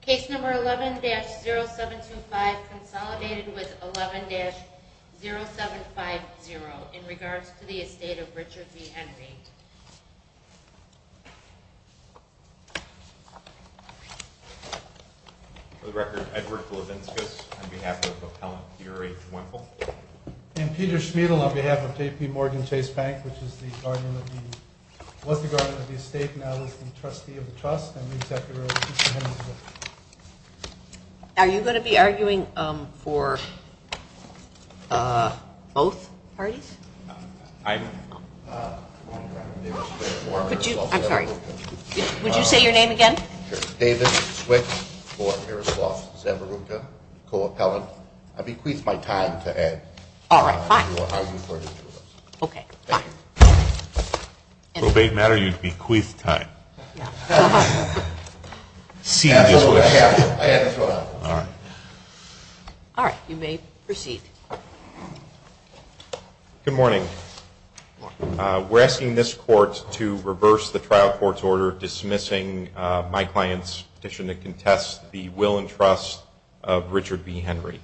Case number 11-0725 consolidated with 11-0750 in regards to the Estate of Richard B. Henry. For the record, Edward Kolevinskas on behalf of Appellant Theory Wimple. And Peter Schmidl on behalf of J.P. Morgan Chase Bank, which was the guardian of the Estate, now is the trustee of the trust. Are you going to be arguing for both parties? I'm sorry, would you say your name again? David Swick for Miroslav Zavruka, co-appellant. I bequeath my time to add. All right, fine. Probate matter, you bequeath time. All right, you may proceed. Good morning. We're asking this court to reverse the trial court's order dismissing my client's petition to contest the will and trust of Richard B. Henry.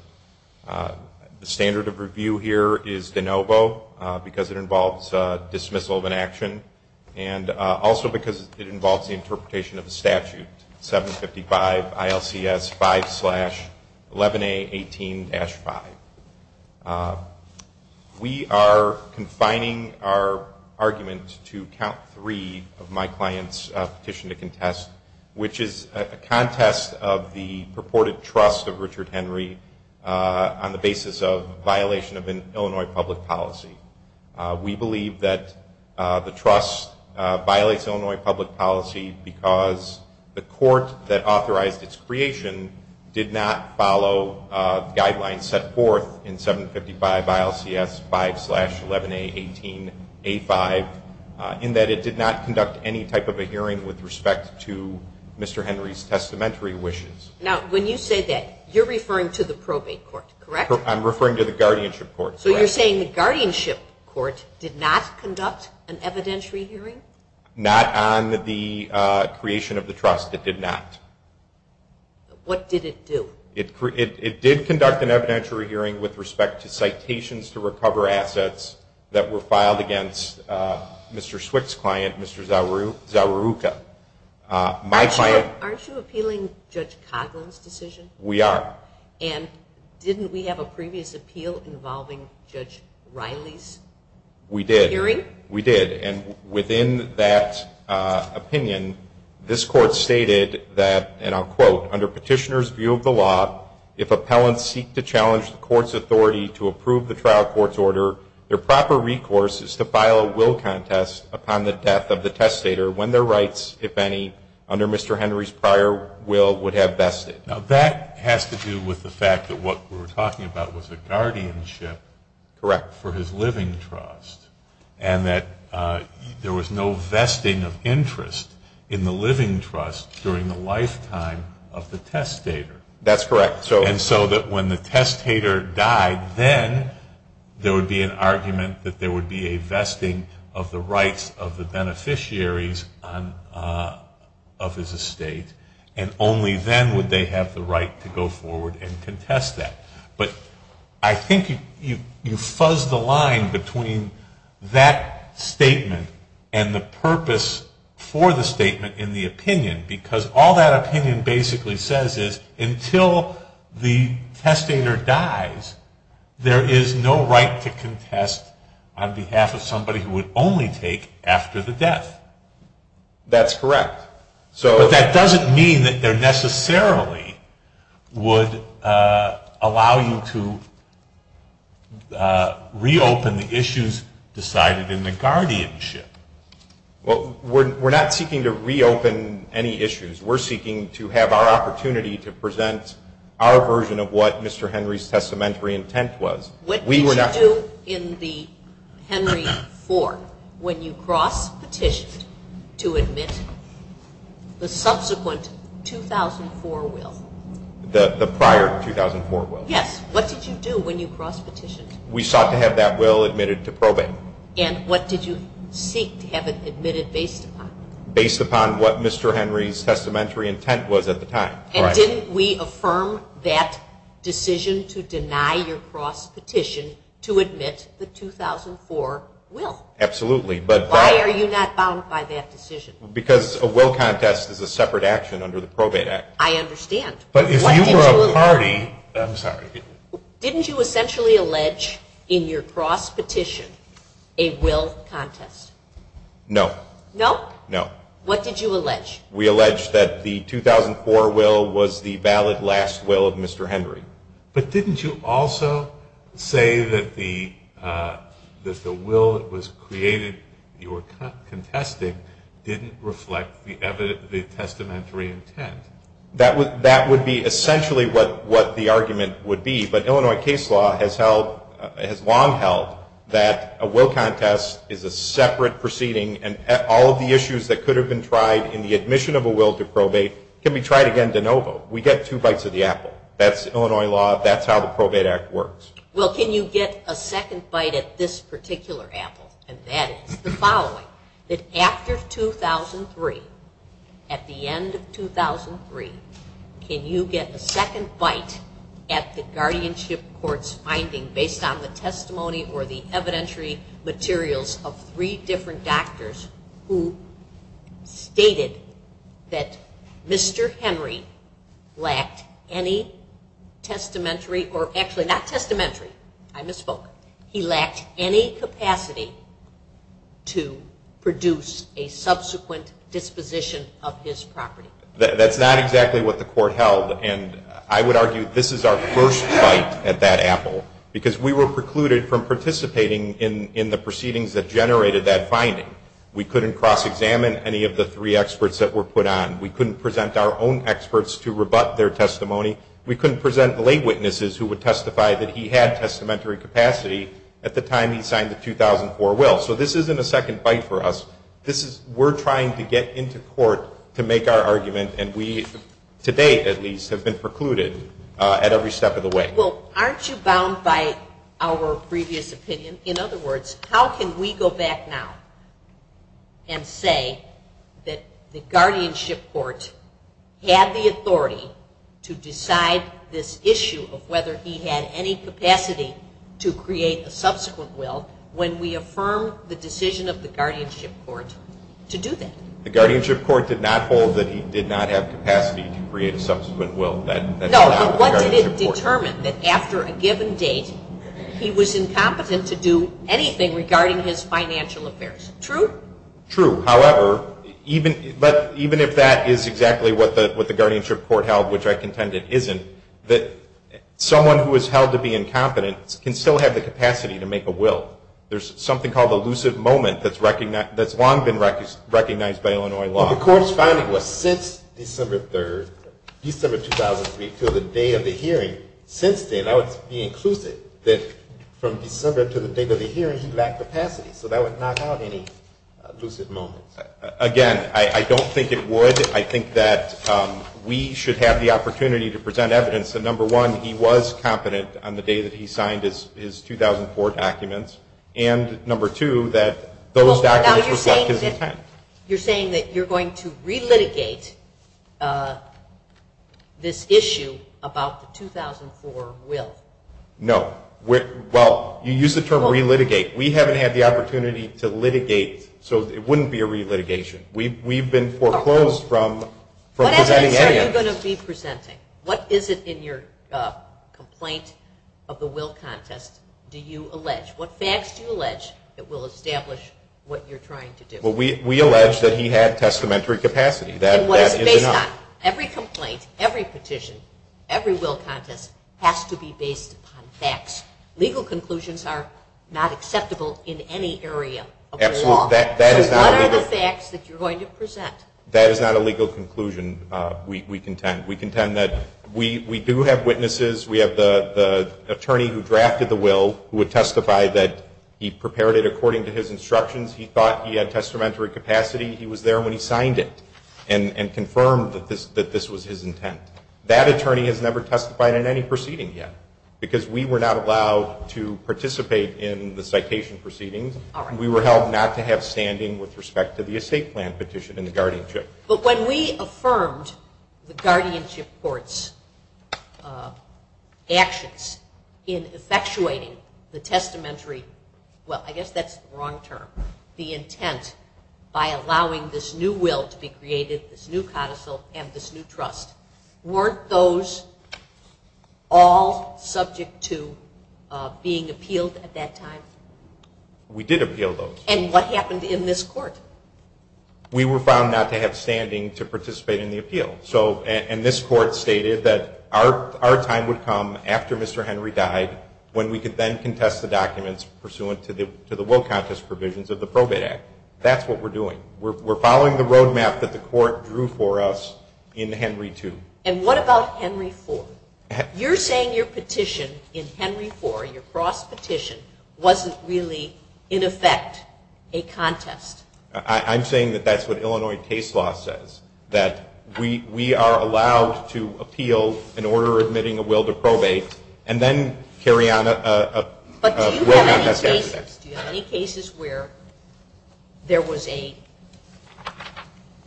The standard of review here is de novo because it involves dismissal of an action. And also because it involves the interpretation of the statute, 755 ILCS 5-11A18-5. We are confining our argument to count three of my client's petition to contest, which is a contest of the purported trust of Richard Henry on the basis of violation of an Illinois public policy. We believe that the trust violates Illinois public policy because the court that authorized its creation did not follow guidelines set forth in 755 ILCS 5-11A18-5, in that it did not conduct any type of a hearing with respect to Mr. Henry's testamentary wishes. Now, when you say that, you're referring to the probate court, correct? I'm referring to the guardianship court. So you're saying the guardianship court did not conduct an evidentiary hearing? Not on the creation of the trust. It did not. What did it do? It did conduct an evidentiary hearing with respect to citations to recover assets that were filed against Mr. Swick's client, Mr. Zawarruka. Aren't you appealing Judge Coghlan's decision? We are. And didn't we have a previous appeal involving Judge Riley's hearing? We did. And within that opinion, this court stated that, and I'll quote, under petitioner's view of the law, if appellants seek to challenge the court's authority to approve the trial court's order, their proper recourse is to file a will contest upon the death of the testator when their rights, if any, under Mr. Henry's prior will would have vested. Now, that has to do with the fact that what we were talking about was a guardianship for his living trust. And that there was no vesting of interest in the living trust during the lifetime of the testator. That's correct. And so that when the testator died, then there would be an argument that there would be a vesting of the rights of the beneficiaries of his estate, and only then would they have the right to go forward and contest that. But I think you fuzz the line between that statement and the purpose for the statement in the opinion, because all that opinion basically says is until the testator dies, there is no right to contest on behalf of somebody who would only take after the death. That's correct. But that doesn't mean that there necessarily would allow you to reopen the issues decided in the guardianship. Well, we're not seeking to reopen any issues. We're seeking to have our opportunity to present our version of what Mr. Henry's testamentary intent was. What did you do in the Henry IV when you cross-petitioned to admit the subsequent 2004 will? The prior 2004 will. Yes. What did you do when you cross-petitioned? We sought to have that will admitted to probate. And what did you seek to have it admitted based upon? Based upon what Mr. Henry's testamentary intent was at the time. And didn't we affirm that decision to deny your cross-petition to admit the 2004 will? Absolutely. Why are you not bound by that decision? Because a will contest is a separate action under the Probate Act. I understand. But if you were a party, I'm sorry. Didn't you essentially allege in your cross-petition a will contest? No. No? No. What did you allege? We allege that the 2004 will was the valid last will of Mr. Henry. But didn't you also say that the will that was created you were contesting didn't reflect the testamentary intent? That would be essentially what the argument would be. But Illinois case law has long held that a will contest is a separate proceeding and all of the issues that could have been tried in the admission of a will to probate can be tried again de novo. We get two bites of the apple. That's Illinois law. That's how the Probate Act works. Well, can you get a second bite at this particular apple? And that is the following, that after 2003, at the end of 2003, can you get a second bite at the guardianship court's finding based on the testimony or the evidentiary materials of three different doctors who stated that Mr. Henry lacked any testamentary or actually not testamentary. I misspoke. He lacked any capacity to produce a subsequent disposition of his property. That's not exactly what the court held, and I would argue this is our first bite at that apple because we were precluded from participating in the proceedings that generated that finding. We couldn't cross-examine any of the three experts that were put on. We couldn't present our own experts to rebut their testimony. We couldn't present lay witnesses who would testify that he had testamentary capacity at the time he signed the 2004 will. So this isn't a second bite for us. We're trying to get into court to make our argument, and we, to date at least, have been precluded at every step of the way. Well, aren't you bound by our previous opinion? In other words, how can we go back now and say that the guardianship court had the authority to decide this issue of whether he had any capacity to create a subsequent will when we affirm the decision of the guardianship court to do that? The guardianship court did not hold that he did not have capacity to create a subsequent will. No, but what did it determine? That after a given date, he was incompetent to do anything regarding his financial affairs. True? True. However, even if that is exactly what the guardianship court held, which I contend it isn't, that someone who is held to be incompetent can still have the capacity to make a will. There's something called the lucid moment that's long been recognized by Illinois law. The court's finding was since December 3rd, December 2003, until the day of the hearing, since then, I would be inclusive that from December to the date of the hearing, he lacked capacity. So that would knock out any lucid moments. Again, I don't think it would. I think that we should have the opportunity to present evidence that, number one, he was competent on the day that he signed his 2004 documents, and, number two, that those documents reflect his intent. You're saying that you're going to re-litigate this issue about the 2004 will? No. Well, you use the term re-litigate. We haven't had the opportunity to litigate, so it wouldn't be a re-litigation. We've been foreclosed from presenting evidence. What evidence are you going to be presenting? What is it in your complaint of the will contest do you allege? What facts do you allege that will establish what you're trying to do? Well, we allege that he had testamentary capacity. And what is it based on? Every complaint, every petition, every will contest has to be based upon facts. Legal conclusions are not acceptable in any area of the law. Absolutely. So what are the facts that you're going to present? That is not a legal conclusion, we contend. We contend that we do have witnesses. We have the attorney who drafted the will who would testify that he prepared it according to his instructions. He thought he had testamentary capacity. He was there when he signed it and confirmed that this was his intent. That attorney has never testified in any proceeding yet because we were not allowed to participate in the citation proceedings. We were held not to have standing with respect to the estate plan petition and the guardianship. But when we affirmed the guardianship court's actions in effectuating the intent by allowing this new will to be created, this new codicil, and this new trust, weren't those all subject to being appealed at that time? We did appeal those. And what happened in this court? We were found not to have standing to participate in the appeal. And this court stated that our time would come after Mr. Henry died when we could then contest the documents pursuant to the will contest provisions of the Probate Act. That's what we're doing. We're following the road map that the court drew for us in Henry II. And what about Henry IV? You're saying your petition in Henry IV, your cross petition, wasn't really, in effect, a contest. I'm saying that that's what Illinois case law says, that we are allowed to appeal an order admitting a will to probate and then carry on a will contest after that. But do you have any cases where there was an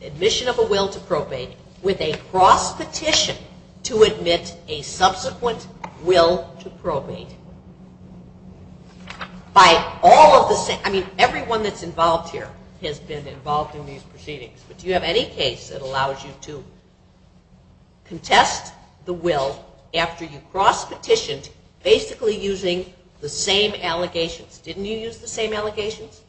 admission of a will to probate with a cross petition to admit a subsequent will to probate? I mean, everyone that's involved here has been involved in these proceedings. But do you have any case that allows you to contest the will after you cross petitioned basically using the same allegations? Didn't you use the same allegations?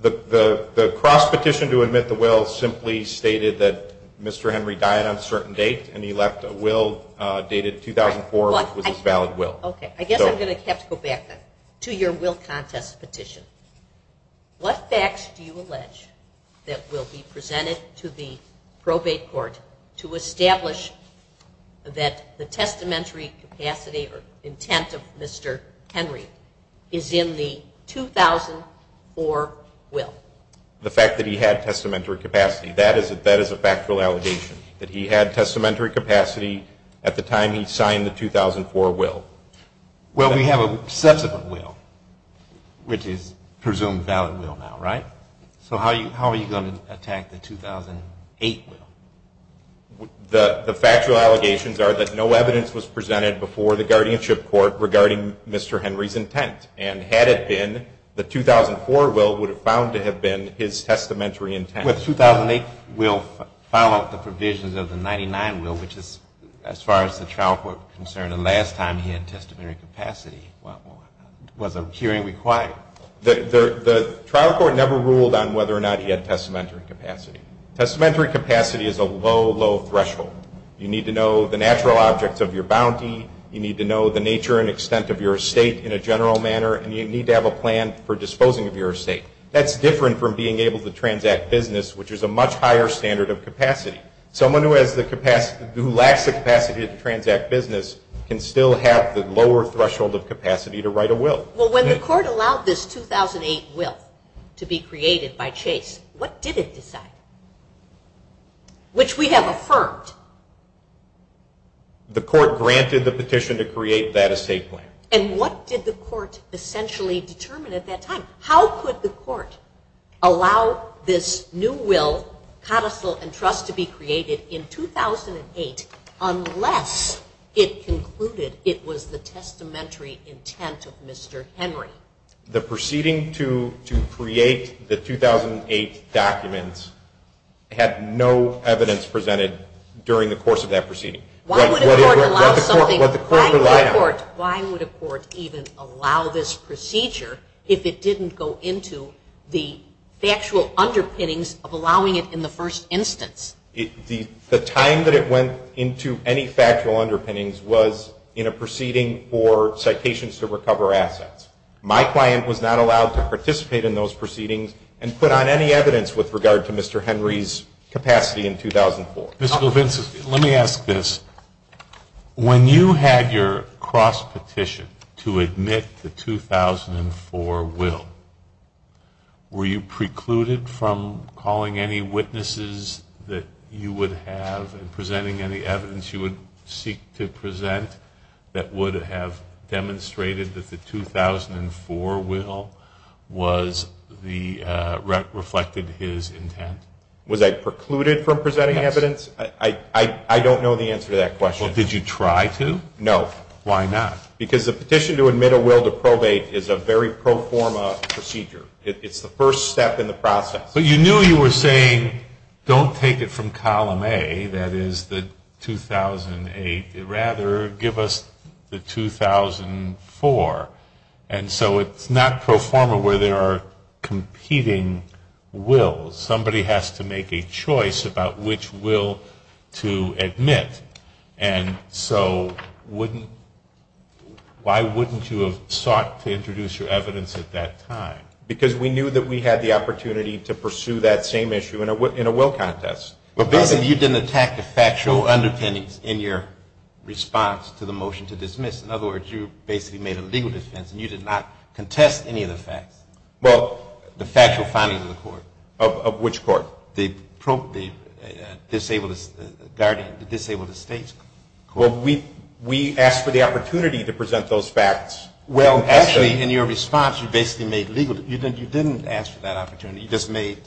The cross petition to admit the will simply stated that Mr. Henry died on a certain date and he left a will dated 2004, which was his valid will. Okay. I guess I'm going to have to go back then to your will contest petition. What facts do you allege that will be presented to the probate court to that the testamentary capacity or intent of Mr. Henry is in the 2004 will? The fact that he had testamentary capacity, that is a factual allegation, that he had testamentary capacity at the time he signed the 2004 will. Well, we have a subsequent will, which is presumed valid will now, right? So how are you going to attack the 2008 will? The factual allegations are that no evidence was presented before the guardianship court regarding Mr. Henry's intent, and had it been, the 2004 will would have found to have been his testamentary intent. Well, the 2008 will followed the provisions of the 1999 will, which is as far as the trial court is concerned, the last time he had testamentary capacity was a hearing required. The trial court never ruled on whether or not he had testamentary capacity. Testamentary capacity is a low, low threshold. You need to know the natural objects of your bounty, you need to know the nature and extent of your estate in a general manner, and you need to have a plan for disposing of your estate. That's different from being able to transact business, which is a much higher standard of capacity. Someone who lacks the capacity to transact business can still have the lower threshold of capacity to write a will. Well, when the court allowed this 2008 will to be created by Chase, what did it decide? Which we have affirmed. The court granted the petition to create that estate plan. And what did the court essentially determine at that time? How could the court allow this new will, codicil, and trust to be created in 2008 unless it concluded it was the testamentary intent of Mr. Henry? The proceeding to create the 2008 documents had no evidence presented during the course of that proceeding. Why would a court even allow this procedure if it didn't go into the factual underpinnings of allowing it in the first instance? The time that it went into any factual underpinnings was in a proceeding for citations to recover assets. My client was not allowed to participate in those proceedings and put on any evidence with regard to Mr. Henry's capacity in 2004. Mr. Levinson, let me ask this. When you had your cross-petition to admit the 2004 will, were you precluded from calling any witnesses that you would have and presenting any evidence you would seek to present that would have demonstrated that the 2004 will reflected his intent? Was I precluded from presenting evidence? Yes. I don't know the answer to that question. Well, did you try to? No. Why not? Because the petition to admit a will to probate is a very pro forma procedure. It's the first step in the process. But you knew you were saying don't take it from column A, that is the 2008. Rather, give us the 2004. And so it's not pro forma where there are competing wills. Somebody has to make a choice about which will to admit. And so why wouldn't you have sought to introduce your evidence at that time? Because we knew that we had the opportunity to pursue that same issue in a will contest. But basically you didn't attack the factual underpinnings in your response to the motion to dismiss. In other words, you basically made a legal defense, and you did not contest any of the facts. Well, the factual findings of the court. Of which court? The disabled guardian, the disabled estate court. Well, we asked for the opportunity to present those facts. Well, actually in your response you basically made legal, you didn't ask for that opportunity. You just made,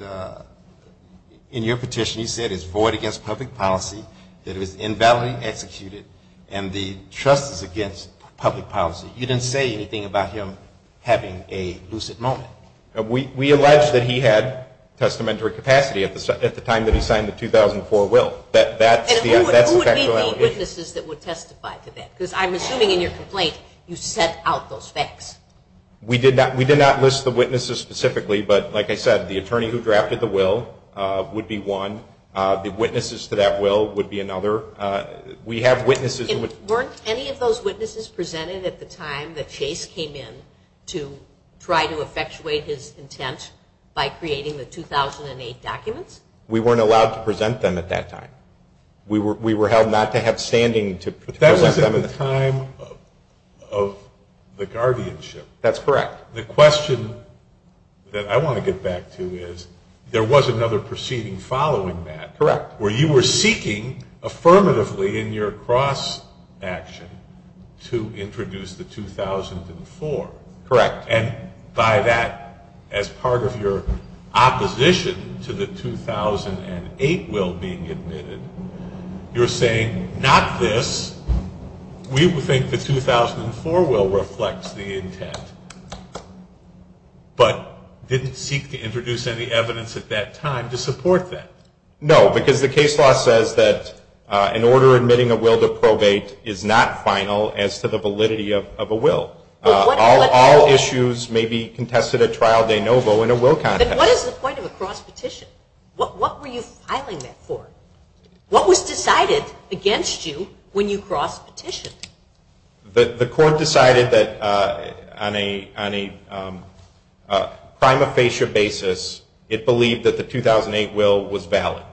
in your petition you said it's void against public policy, that it was invalidly executed, and the trust is against public policy. You didn't say anything about him having a lucid moment. We alleged that he had testamentary capacity at the time that he signed the 2004 will. That's the factual allegation. And who would be the witnesses that would testify to that? Because I'm assuming in your complaint you sent out those facts. We did not list the witnesses specifically, but like I said, the attorney who drafted the will would be one. The witnesses to that will would be another. We have witnesses. Weren't any of those witnesses presented at the time that Chase came in to try to effectuate his intent by creating the 2008 documents? We weren't allowed to present them at that time. We were held not to have standing to present them. That was at the time of the guardianship. That's correct. The question that I want to get back to is there was another proceeding following that. Correct. Where you were seeking affirmatively in your cross-action to introduce the 2004. Correct. And by that, as part of your opposition to the 2008 will being admitted, you're saying not this. We think the 2004 will reflects the intent, but didn't seek to introduce any evidence at that time to support that. No, because the case law says that an order admitting a will to probate is not final as to the validity of a will. All issues may be contested at trial de novo in a will contest. What is the point of a cross-petition? What were you filing that for? What was decided against you when you cross-petitioned? The court decided that on a prima facie basis, it believed that the 2008 will was valid.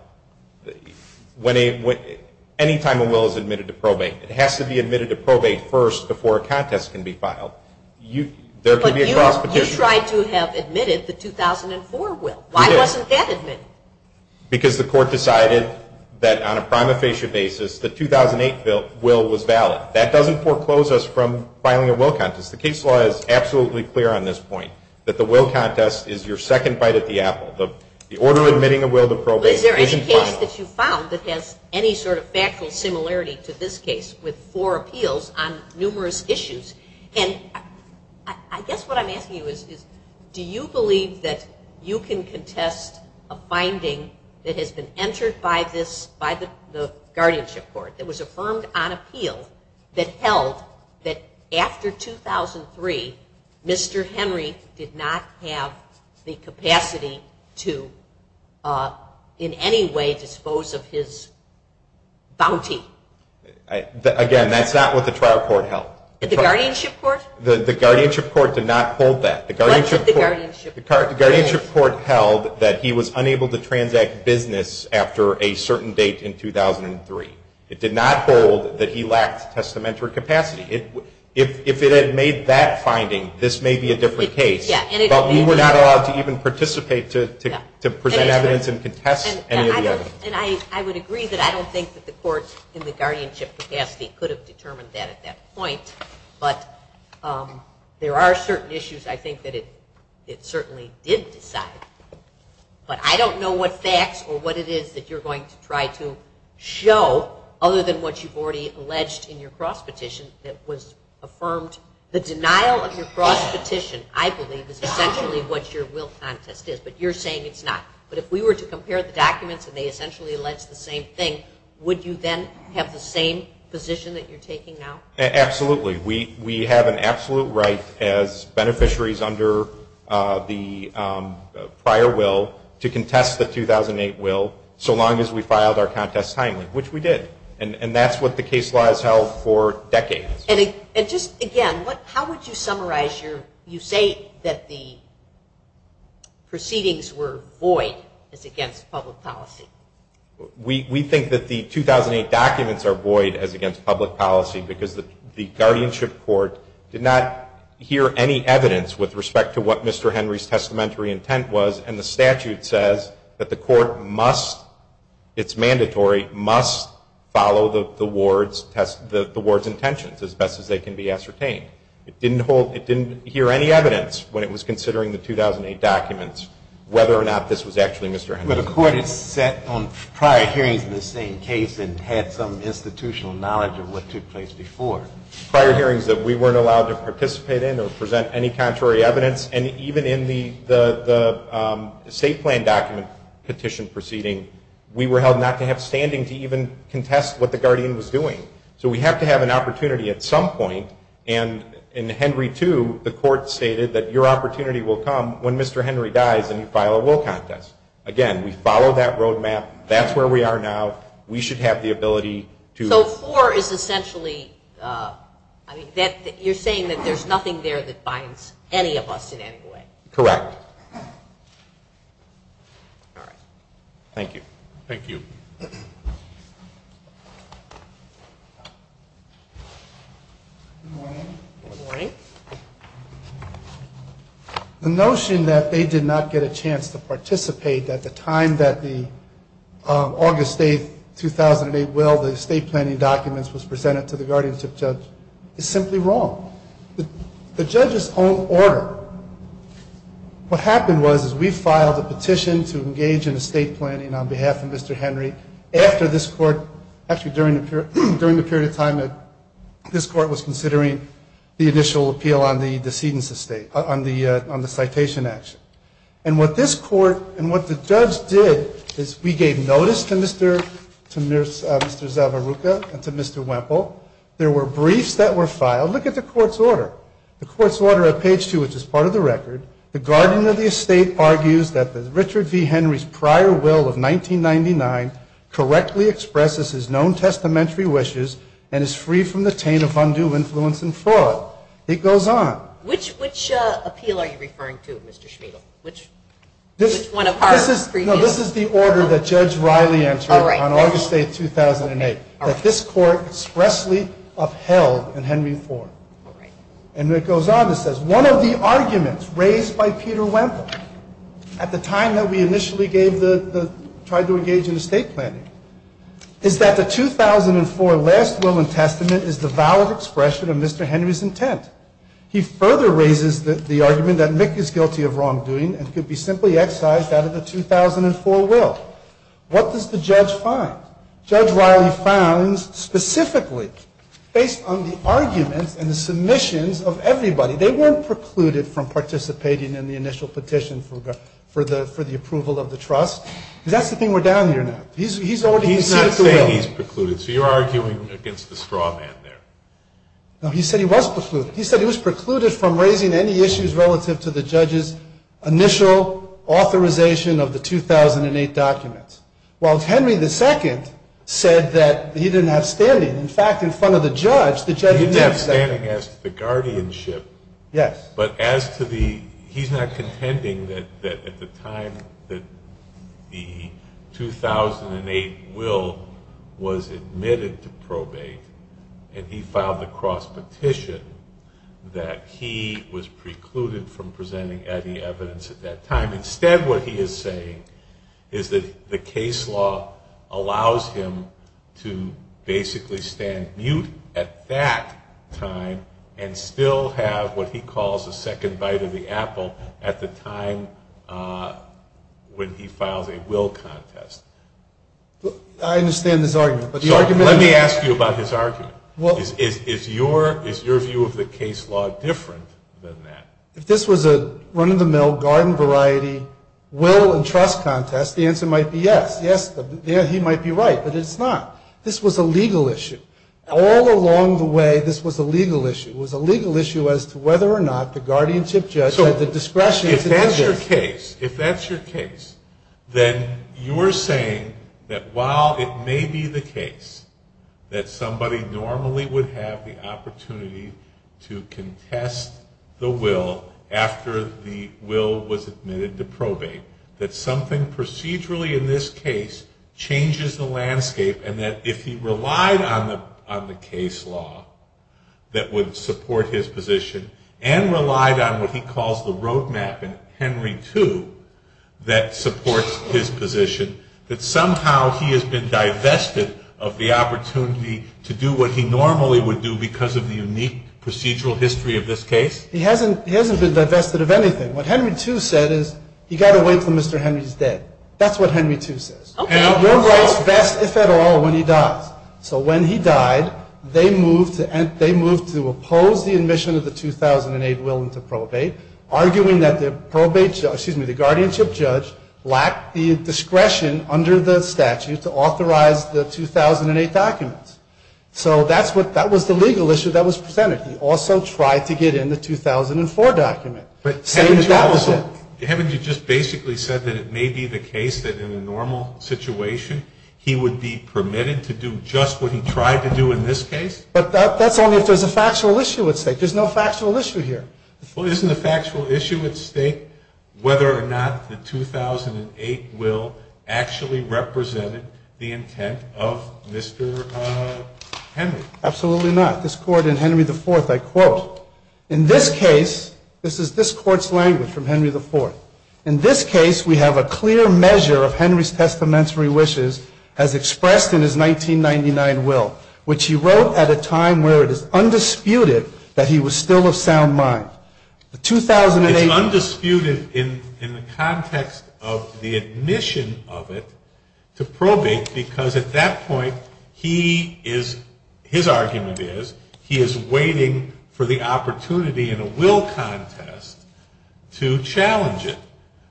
Any time a will is admitted to probate, it has to be admitted to probate first before a contest can be filed. But you tried to have admitted the 2004 will. Why wasn't that admitted? Because the court decided that on a prima facie basis, the 2008 will was valid. That doesn't foreclose us from filing a will contest. The case law is absolutely clear on this point, that the will contest is your second bite at the apple. The order admitting a will to probate isn't final. But is there any case that you found that has any sort of factual similarity to this case with four appeals on numerous issues? And I guess what I'm asking you is do you believe that you can contest a finding that has been entered by the guardianship court that was affirmed on appeal that held that after 2003, Mr. Henry did not have the capacity to in any way dispose of his bounty? Again, that's not what the trial court held. The guardianship court? The guardianship court did not hold that. What did the guardianship court hold? The guardianship court held that he was unable to transact business after a certain date in 2003. It did not hold that he lacked testamentary capacity. If it had made that finding, this may be a different case. But we were not allowed to even participate to present evidence and contest any of the evidence. And I would agree that I don't think that the courts in the guardianship capacity could have determined that at that point. But there are certain issues I think that it certainly did decide. But I don't know what facts or what it is that you're going to try to show other than what you've already alleged in your cross petition that was essentially what your will contest is. But you're saying it's not. But if we were to compare the documents and they essentially allege the same thing, would you then have the same position that you're taking now? Absolutely. We have an absolute right as beneficiaries under the prior will to contest the 2008 will so long as we filed our contest timely, which we did. And that's what the case law has held for decades. And just, again, how would you summarize your you say that the proceedings were void as against public policy? We think that the 2008 documents are void as against public policy because the guardianship court did not hear any evidence with respect to what Mr. Henry's testamentary intent was. And the statute says that the court must, it's mandatory, must follow the ward's intentions as best as they can be ascertained. It didn't hear any evidence when it was considering the 2008 documents whether or not this was actually Mr. Henry's will. But the court had sat on prior hearings in the same case and had some institutional knowledge of what took place before. Prior hearings that we weren't allowed to participate in or present any contrary evidence. And even in the state plan document petition proceeding, we were held not to have standing to even contest what the guardian was doing. So we have to have an opportunity at some point. And in Henry II, the court stated that your opportunity will come when Mr. Henry dies and you file a will contest. Again, we follow that roadmap. That's where we are now. We should have the ability to. So four is essentially, I mean, you're saying that there's nothing there that binds any of us in any way. Correct. All right. Thank you. Thank you. Good morning. Good morning. The notion that they did not get a chance to participate at the time that the August 8, 2008 will, the state planning documents was presented to the guardianship judge, is simply wrong. The judge's own order. What happened was, is we filed a petition to engage in a state planning on behalf of Mr. Henry after this court, actually during the period of time that this court was considering the initial appeal on the decedent's estate, on the citation action. And what this court, and what the judge did is we gave notice to Mr. Zavarruca and to Mr. Wemple. There were briefs that were filed. Look at the court's order. The court's order at page two, which is part of the record, the guardian of the estate argues that the Richard V. Henry's prior will of 1999 correctly expresses his known testamentary wishes and is free from the taint of undue influence and fraud. It goes on. Which appeal are you referring to, Mr. Schmidl? Which one of our previous? No, this is the order that Judge Riley entered on August 8, 2008, that this court expressly upheld in Henry IV. And it goes on. It says one of the arguments raised by Peter Wemple at the time that we initially gave the, tried to engage in estate planning is that the 2004 last will and testament is the valid expression of Mr. Henry's intent. He further raises the argument that Mick is guilty of wrongdoing and could be simply excised out of the 2004 will. What does the judge find? Judge Riley found specifically based on the arguments and the submissions of everybody, they weren't precluded from participating in the initial petition for the approval of the trust. Because that's the thing we're down here now. He's already conceded the will. He's not saying he's precluded. So you're arguing against the straw man there. No, he said he was precluded. He said he was precluded from raising any issues relative to the judge's initial authorization of the 2008 documents. While Henry II said that he didn't have standing. In fact, in front of the judge, the judge. He didn't have standing as to the guardianship. Yes. But as to the, he's not contending that at the time that the 2008 will was admitted to probate and he filed the cross petition that he was precluded from presenting any evidence at that time. Instead, what he is saying is that the case law allows him to basically stand mute at that time and still have what he calls a second bite of the apple at the time when he files a will contest. I understand his argument. Let me ask you about his argument. Is your view of the case law different than that? If this was a run-of-the-mill garden variety will and trust contest, the answer might be yes. Yes, he might be right, but it's not. This was a legal issue. All along the way, this was a legal issue. It was a legal issue as to whether or not the guardianship judge had the discretion to do this. If that's your case, then you're saying that while it may be the case that somebody normally would have the opportunity to contest the will after the will was admitted to probate, that something procedurally in this case changes the landscape and that if he relied on the case law that would support his position and relied on what he calls the road map in Henry II that supports his position, that somehow he has been divested of the opportunity to do what he normally would do because of the unique procedural history of this case? He hasn't been divested of anything. What Henry II said is, you've got to wait until Mr. Henry is dead. That's what Henry II says. Okay. Your rights vest, if at all, when he dies. So when he died, they moved to oppose the admission of the 2008 will into probate, arguing that the guardianship judge lacked the discretion under the documents. So that was the legal issue that was presented. He also tried to get in the 2004 document. But haven't you just basically said that it may be the case that in a normal situation he would be permitted to do just what he tried to do in this case? But that's only if there's a factual issue at stake. There's no factual issue here. Well, isn't the factual issue at stake whether or not the 2008 will actually represented the intent of Mr. Henry? Absolutely not. This court in Henry IV, I quote, in this case, this is this court's language from Henry IV, in this case we have a clear measure of Henry's testamentary wishes as expressed in his 1999 will, which he wrote at a time where it is undisputed that he was still of sound mind. It's undisputed in the context of the admission of it to probate because at that point he is, his argument is, he is waiting for the opportunity in a will contest to challenge it.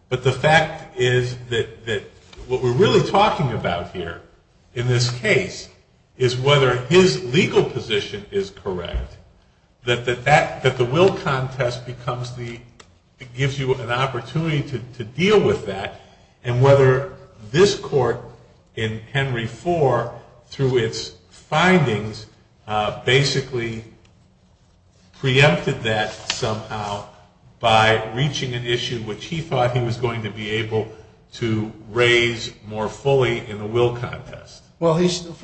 But the fact is that what we're really talking about here in this case is whether his legal position is correct, that the will contest becomes the, gives you an opportunity to deal with that, and whether this court in Henry IV, through its findings, basically preempted that somehow by reaching an issue which he thought he was going to be able to raise more fully in a will contest. Isn't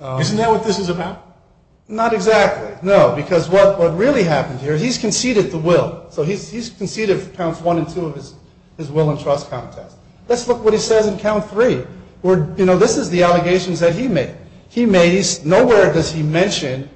that what this is about? Not exactly. No, because what really happened here, he's conceded the will. So he's conceded counts one and two of his will and trust contest. Let's look what he says in count three. You know, this is the allegations that he made. Nowhere does he mention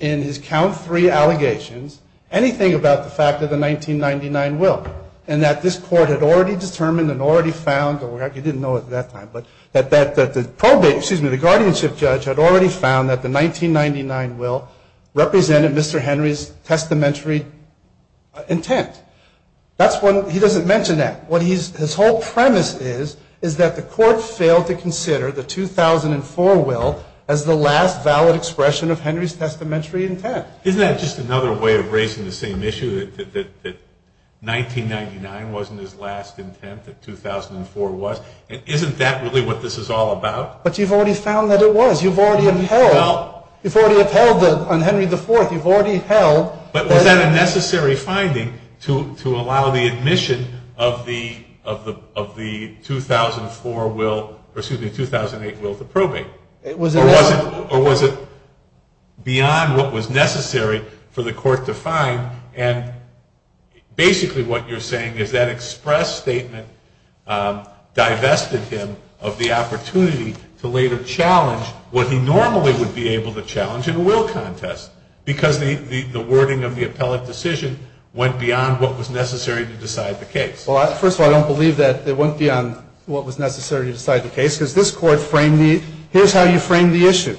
in his count three allegations anything about the fact of the 1999 will and that this court had already determined and already found, he didn't know it at that time, but that the probation, excuse me, the guardianship judge had already found that the 1999 will represented Mr. Henry's testamentary intent. That's one, he doesn't mention that. What his whole premise is, is that the court failed to consider the 2004 will as the last valid expression of Henry's testamentary intent. Isn't that just another way of raising the same issue, that 1999 wasn't his last intent, that 2004 was? And isn't that really what this is all about? But you've already found that it was. You've already upheld. You've already upheld on Henry IV. You've already held. But was that a necessary finding to allow the admission of the 2004 will, excuse me, 2008 will to probate? Or was it beyond what was necessary for the court to find? And basically what you're saying is that express statement divested him of the opportunity to later challenge what he normally would be able to challenge in a will contest because the wording of the appellate decision went beyond what was necessary to decide the case. Well, first of all, I don't believe that it went beyond what was necessary to decide the case because this court framed the, here's how you frame the issue.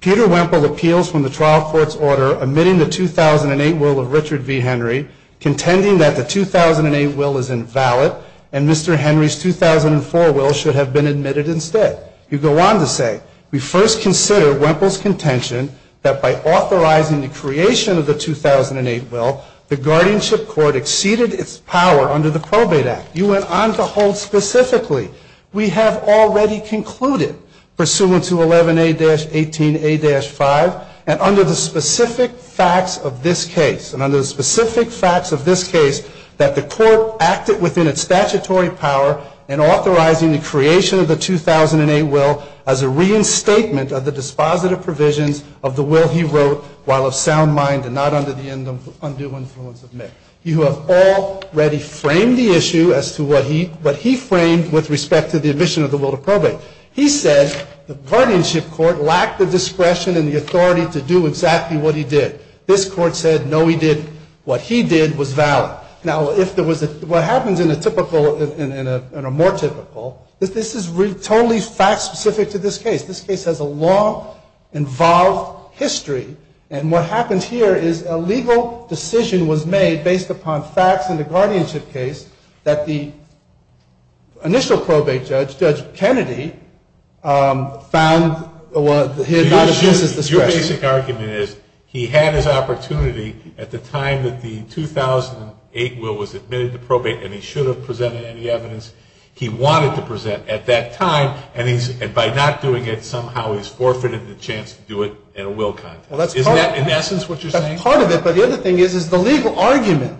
Peter Wemple appeals from the trial court's order, admitting the 2008 will of Richard V. Henry, contending that the 2008 will is invalid, and Mr. Henry's 2004 will should have been admitted instead. You go on to say, we first consider Wemple's contention that by authorizing the creation of the 2008 will, the guardianship court exceeded its power under the Probate Act. You went on to hold specifically, we have already concluded pursuant to 11A-18A-5, and under the specific facts of this case, and under the specific facts of this case, that the court acted within its statutory power in authorizing the creation of the 2008 will as a reinstatement of the dispositive provisions of the will he wrote while of sound mind and not under the undue influence of men. You have already framed the issue as to what he, he framed with respect to the admission of the will to probate. He said, the guardianship court lacked the discretion and the authority to do exactly what he did. This court said, no, he did, what he did was valid. Now, if there was a, what happens in a typical, in a, in a more typical, this is totally fact specific to this case. This case has a long involved history, and what happens here is a legal decision was made based upon facts in the initial probate judge, Judge Kennedy, found, well, he had not assumed his discretion. Your basic argument is, he had his opportunity at the time that the 2008 will was admitted to probate, and he should have presented any evidence he wanted to present at that time, and he's, and by not doing it, somehow he's forfeited the chance to do it in a will context. Isn't that in essence what you're saying? That's part of it, but the other thing is, is the legal argument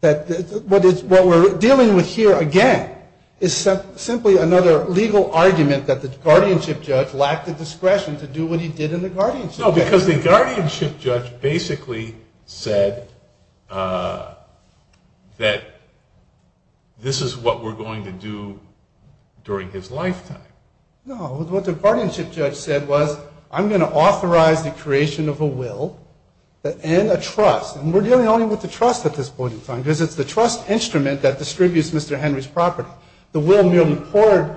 that, what we're dealing with here, again, is simply another legal argument that the guardianship judge lacked the discretion to do what he did in the guardianship case. No, because the guardianship judge basically said that this is what we're going to do during his lifetime. No, what the guardianship judge said was, I'm going to authorize the creation of a will and a trust, and we're dealing only with the trust at this point in time, because it's the trust instrument that distributes Mr. Henry's property. The will merely poured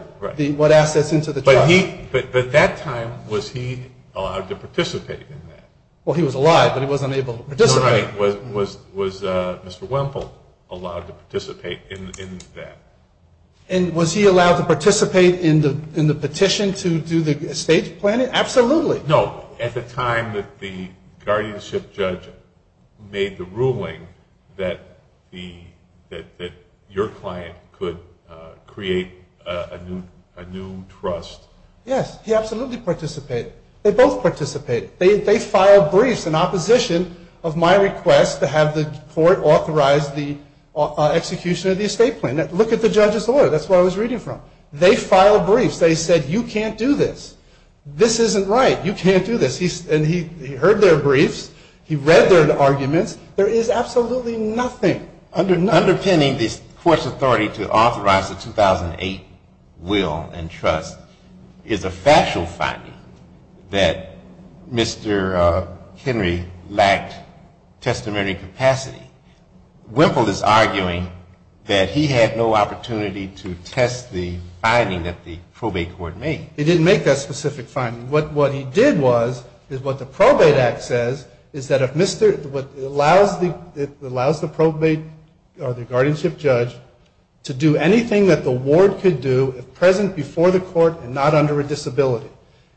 what assets into the trust. But at that time, was he allowed to participate in that? Well, he was alive, but he wasn't able to participate. Was Mr. Wemple allowed to participate in that? And was he allowed to participate in the petition to do the estate planning? Absolutely. No, at the time that the guardianship judge made the ruling that your client could create a new trust. Yes, he absolutely participated. They both participated. They filed briefs in opposition of my request to have the court authorize the execution of the estate plan. Look at the judge's order. That's what I was reading from. They filed briefs. They said, you can't do this. This isn't right. You can't do this. And he heard their briefs. He read their arguments. There is absolutely nothing. Underpinning the court's authority to authorize the 2008 will and trust is a factual finding that Mr. Henry lacked testimony capacity. Wemple is arguing that he had no opportunity to test the finding that the probate court made. He didn't make that specific finding. What he did was, is what the probate act says, is that it allows the probate or the guardianship judge to do anything that the ward could do if present before the court and not under a disability.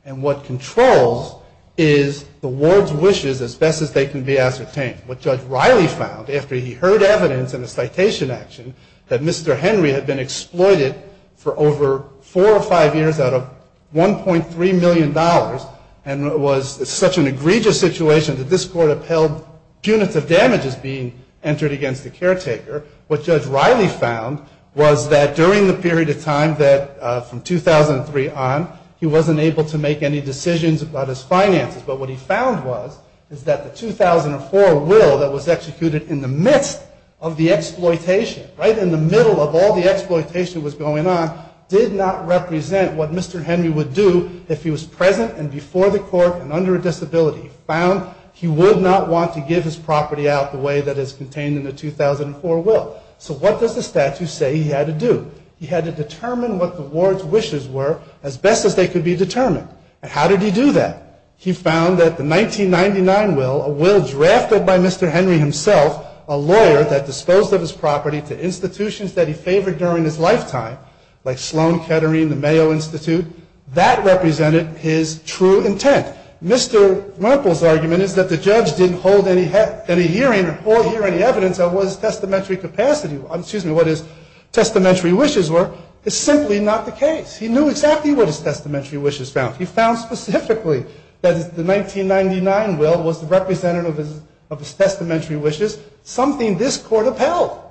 And what controls is the ward's wishes as best as they can be ascertained. What Judge Riley found after he heard evidence in a citation action that Mr. Henry had been exploited for over four or five years out of $1.3 million and was such an egregious situation that this court upheld punitive damages being entered against the caretaker, what Judge Riley found was that during the period of time that, from 2003 on, he wasn't able to make any decisions about his finances. But what he found was is that the 2004 will that was executed in the midst of the exploitation, right in the middle of all the exploitation that was going on, did not represent what Mr. Henry would do if he was present and before the court and under a disability. He found he would not want to give his property out the way that is contained in the 2004 will. So what does the statute say he had to do? He had to determine what the ward's wishes were as best as they could be determined. And how did he do that? He found that the 1999 will, a will drafted by Mr. Henry himself, a lawyer that disposed of his property to institutions that he favored during his lifetime, like Sloan Kettering, the Mayo Institute, that represented his true intent. Mr. Merkel's argument is that the judge didn't hold any hearing or hear any evidence of what his testamentary capacity, excuse me, what his testamentary wishes were, is simply not the case. He knew exactly what his testamentary wishes found. He found specifically that the 1999 will was representative of his testamentary wishes, something this court upheld.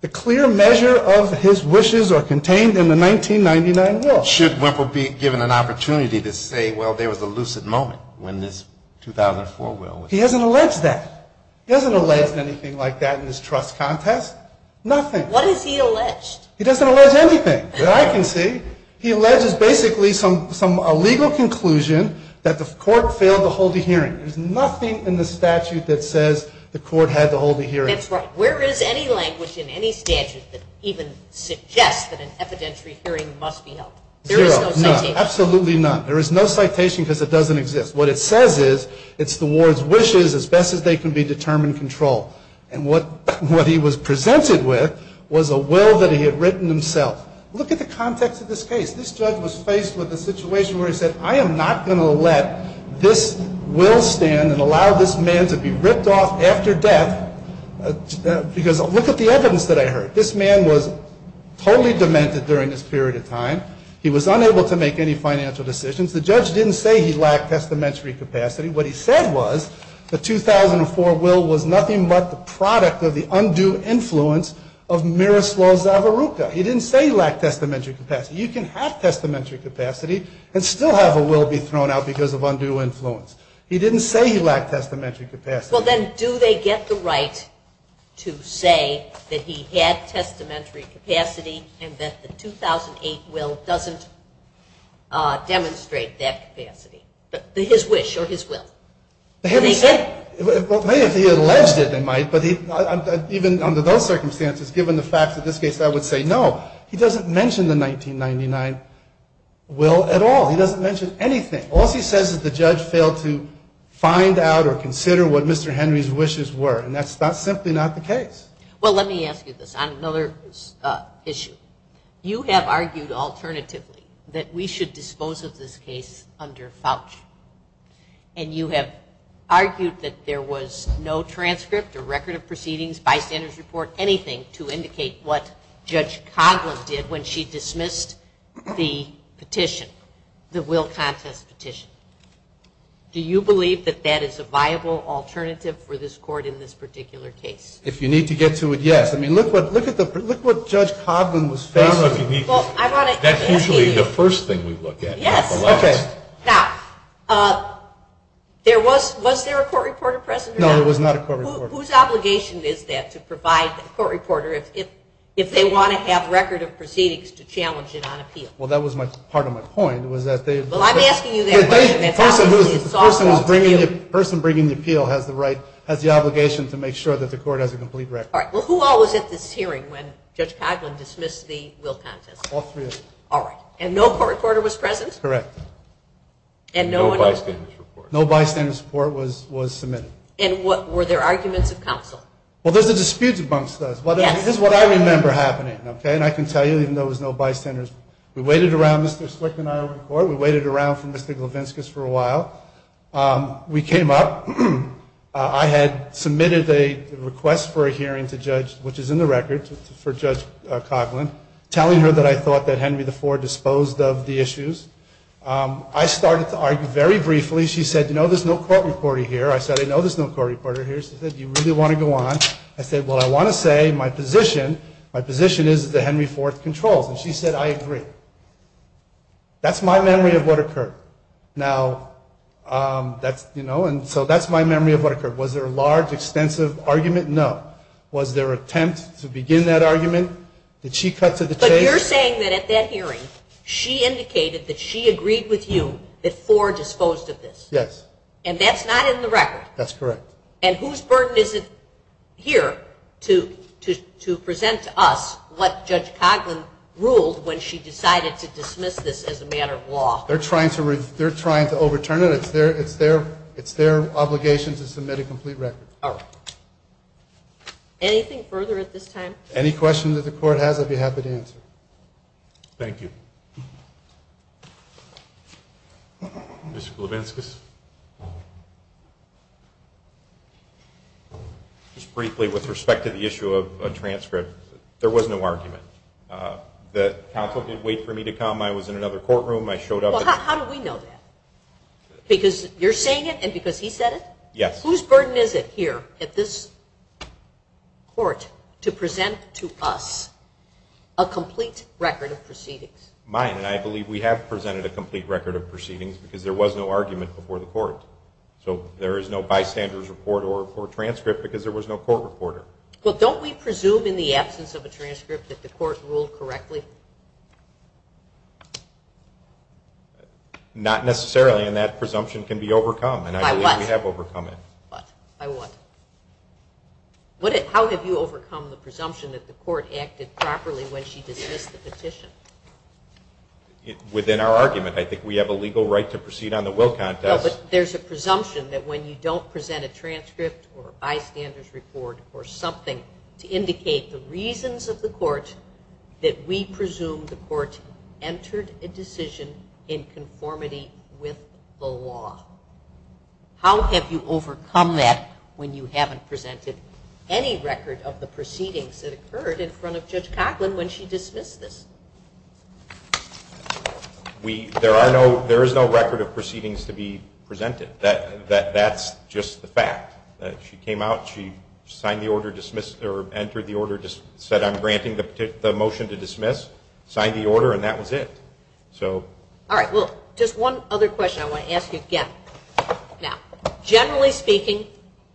The clear measure of his wishes are contained in the 1999 will. Should Wimple be given an opportunity to say, well there was a lucid moment when this 2004 will was drafted? He hasn't alleged that. He hasn't alleged anything like that in his trust contest. Nothing. What has he alleged? He doesn't allege anything that I can see. He alleges basically a legal conclusion that the court failed to hold a hearing. There's nothing in the statute that says the court had to hold a hearing. That's right. Where is any language in any statute that even suggests that an evidentiary hearing must be held? Zero. None. Absolutely none. There is no citation because it doesn't exist. What it says is it's the ward's wishes as best as they can be determined control. And what he was presented with was a will that he had written himself. Look at the context of this case. This judge was faced with a situation where he said, I am not going to let this will stand and allow this man to be ripped off after death because look at the evidence that I heard. This man was totally demented during this period of time. He was unable to make any financial decisions. The judge didn't say he lacked testamentary capacity. What he said was the 2004 will was nothing but the product of the undue influence of Miroslav Zavoruka. He didn't say he lacked testamentary capacity. You can have testamentary capacity and still have a will be thrown out because of undue influence. He didn't say he lacked testamentary capacity. Well, then do they get the right to say that he had testamentary capacity and that the 2008 will doesn't demonstrate that capacity, his wish or his will? Well, maybe if he alleged it, they might. But even under those circumstances, given the facts of this case, I would say no. He doesn't mention the 1999 will at all. He doesn't mention anything. All he says is the judge failed to find out or consider what Mr. Henry's wishes were. And that's simply not the case. Well, let me ask you this on another issue. You have argued alternatively that we should dispose of this case under FAUC. And you have argued that there was no transcript or record of proceedings, bystanders report, anything to indicate what Judge Coghlan did when she dismissed the petition, the will contest petition. Do you believe that that is a viable alternative for this court in this particular case? If you need to get to it, yes. I mean, look what Judge Coghlan was facing. That's usually the first thing we look at. Yes. Okay. Now, was there a court reporter present or not? No, there was not a court reporter. Whose obligation is that to provide a court reporter if they want to have a record of proceedings to challenge it on appeal? Well, that was part of my point was that they had to. Well, I'm asking you that question. The person bringing the appeal has the obligation to make sure that the court has a complete record. All right. Well, who all was at this hearing when Judge Coghlan dismissed the will contest? All three of us. All right. And no court reporter was present? Correct. And no bystanders report? No bystanders report was submitted. And were there arguments of counsel? Well, there's a dispute amongst us. Yes. This is what I remember happening, okay? And I can tell you, even though there was no bystanders, we waited around. Mr. Slick and I were in court. We waited around for Mr. Glavinskas for a while. We came up. I had submitted a request for a hearing to Judge, which is in the record, for Judge Coghlan, telling her that I thought that Henry IV disposed of the issues. I started to argue very briefly. She said, you know, there's no court reporter here. I said, I know there's no court reporter here. She said, do you really want to go on? I said, well, I want to say my position, my position is that Henry IV controls. And she said, I agree. That's my memory of what occurred. Now, that's, you know, and so that's my memory of what occurred. Was there a large, extensive argument? No. Was there an attempt to begin that argument? Did she cut to the chase? But you're saying that at that hearing she indicated that she agreed with you that Ford disposed of this. Yes. And that's not in the record. That's correct. And whose burden is it here to present to us what Judge Coghlan ruled when she decided to dismiss this as a matter of law? They're trying to overturn it. It's their obligation to submit a complete record. All right. Anything further at this time? Any questions that the court has, I'd be happy to answer. Thank you. Mr. Glavinskas. Just briefly with respect to the issue of a transcript, there was no argument. The counsel did wait for me to come. I was in another courtroom. I showed up. Well, how do we know that? Because you're saying it and because he said it? Yes. Whose burden is it here at this court to present to us a complete record of proceedings? Mine, and I believe we have presented a complete record of proceedings because there was no argument before the court. So there is no bystander's report or transcript because there was no court reporter. Well, don't we presume in the absence of a transcript that the court ruled correctly? Not necessarily, and that presumption can be overcome. By what? And I believe we have overcome it. By what? How have you overcome the presumption that the court acted properly when she dismissed the petition? Within our argument. I think we have a legal right to proceed on the will contest. No, but there's a presumption that when you don't present a transcript or bystander's report or something to indicate the reasons of the court that we presume the court entered a decision in conformity with the law. How have you overcome that when you haven't presented any record of the proceedings that occurred in front of Judge Coughlin when she dismissed this? There is no record of proceedings to be presented. That's just the fact. She came out, she signed the order, entered the order, said I'm granting the motion to dismiss, signed the order, and that was it. All right, well, just one other question I want to ask you again. Now, generally speaking,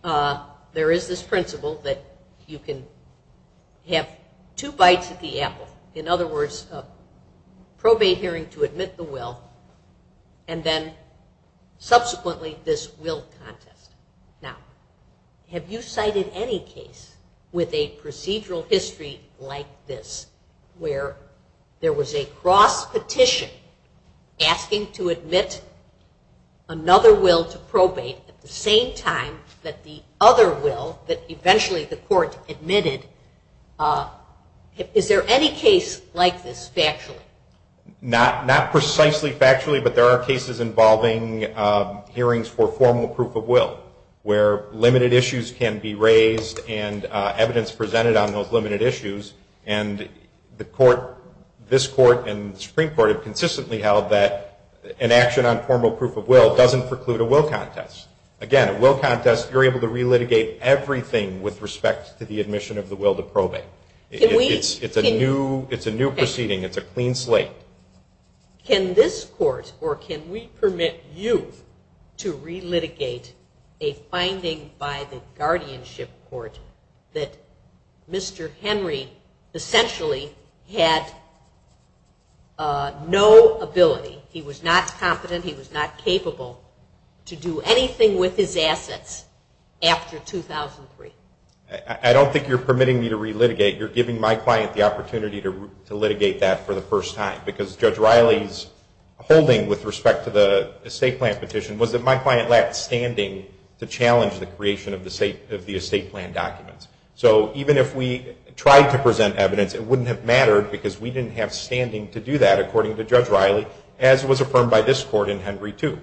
there is this principle that you can have two bites at the apple. In other words, a probate hearing to admit the will, and then subsequently this will contest. Now, have you cited any case with a procedural history like this where there was a cross petition asking to admit another will to probate at the same time that the other will that eventually the court admitted, is there any case like this factually? Not precisely factually, but there are cases involving hearings for formal proof of will where limited issues can be raised and evidence presented on those limited issues, and this court and the Supreme Court have consistently held that an action on formal proof of will doesn't preclude a will contest. Again, a will contest, you're able to relitigate everything with respect to the admission of the will to probate. It's a new proceeding. It's a clean slate. Can this court or can we permit you to relitigate a finding by the guardianship court that Mr. Henry essentially had no ability, he was not competent, he was not capable, to do anything with his assets after 2003? I don't think you're permitting me to relitigate. You're giving my client the opportunity to litigate that for the first time because Judge Riley's holding with respect to the estate plan petition was that my client lacked standing to challenge the creation of the estate plan documents. So even if we tried to present evidence, it wouldn't have mattered because we didn't have standing to do that, according to Judge Riley, as was affirmed by this court in Henry II.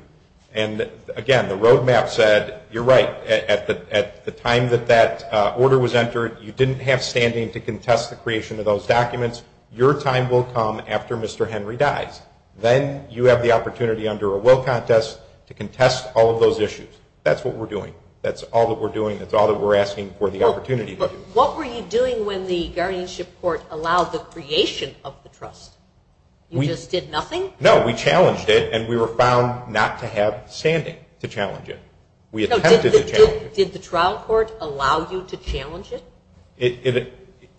And again, the roadmap said, you're right, at the time that that order was entered, you didn't have standing to contest the creation of those documents. Your time will come after Mr. Henry dies. Then you have the opportunity under a will contest to contest all of those issues. That's what we're doing. That's all that we're doing. That's all that we're asking for the opportunity to do. What were you doing when the guardianship court allowed the creation of the trust? You just did nothing? No, we challenged it, and we were found not to have standing to challenge it. We attempted to challenge it. Did the trial court allow you to challenge it?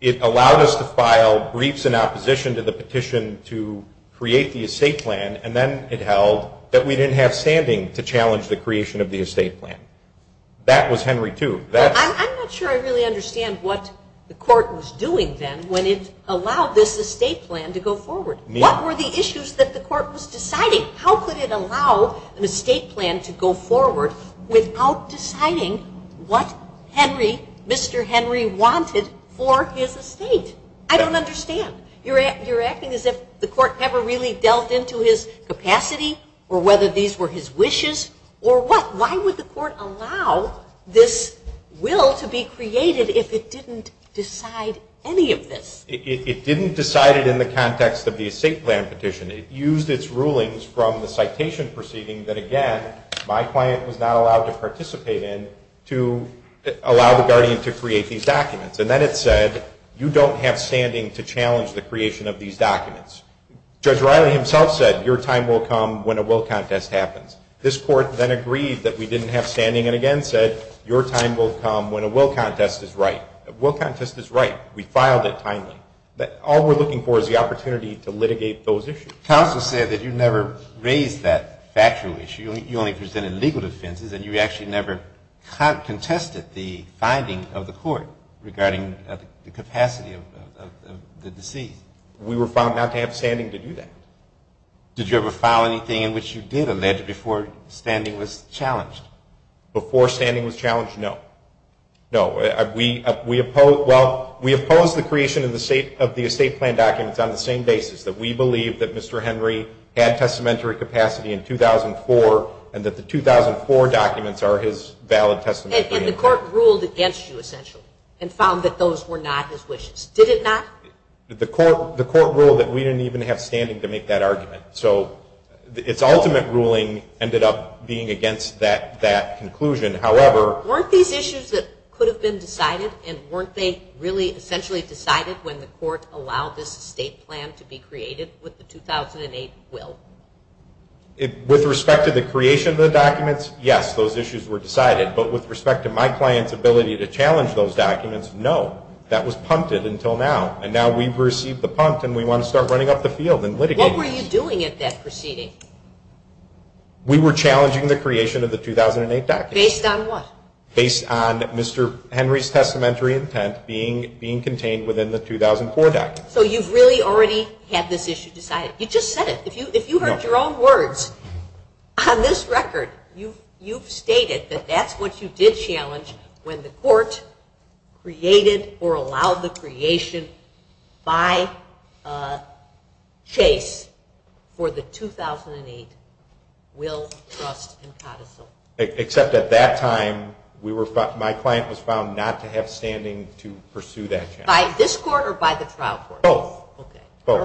It allowed us to file briefs in opposition to the petition to create the estate plan, and then it held that we didn't have standing to challenge the creation of the estate plan. That was Henry II. I'm not sure I really understand what the court was doing then when it allowed this estate plan to go forward. What were the issues that the court was deciding? How could it allow an estate plan to go forward without deciding what Henry, Mr. Henry wanted for his estate? I don't understand. You're acting as if the court never really delved into his capacity or whether these were his wishes or what. Why would the court allow this will to be created if it didn't decide any of this? It didn't decide it in the context of the estate plan petition. It used its rulings from the citation proceeding that, again, my client was not allowed to participate in to allow the guardian to create these documents. And then it said you don't have standing to challenge the creation of these documents. Judge Riley himself said your time will come when a will contest happens. This court then agreed that we didn't have standing and again said your time will come when a will contest is right. A will contest is right. We filed it timely. All we're looking for is the opportunity to litigate those issues. Counsel said that you never raised that factual issue. You only presented legal defenses and you actually never contested the finding of the court regarding the capacity of the deceased. We were found not to have standing to do that. Did you ever file anything in which you did allege before standing was challenged? Before standing was challenged, no. No. Well, we opposed the creation of the estate plan documents on the same basis, that we believe that Mr. Henry had testamentary capacity in 2004 and that the 2004 documents are his valid testamentary documents. And the court ruled against you essentially and found that those were not his wishes. Did it not? The court ruled that we didn't even have standing to make that argument. So its ultimate ruling ended up being against that conclusion. However... Weren't these issues that could have been decided and weren't they really essentially decided when the court allowed this estate plan to be created with the 2008 will? With respect to the creation of the documents, yes, those issues were decided. But with respect to my client's ability to challenge those documents, no. That was punted until now. And now we've received the punt and we want to start running up the field and litigating. What were you doing at that proceeding? We were challenging the creation of the 2008 documents. Based on what? Based on Mr. Henry's testamentary intent being contained within the 2004 documents. So you've really already had this issue decided. You just said it. If you heard your own words on this record, you've stated that that's what you did challenge when the court created or allowed the creation by Chase for the 2008 will, trust, and codicil. Except at that time my client was found not to have standing to pursue that challenge. By this court or by the trial court? Both. Okay. Both.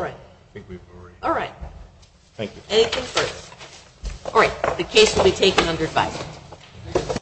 All right. Thank you. Anything further? All right. The case will be taken under advice.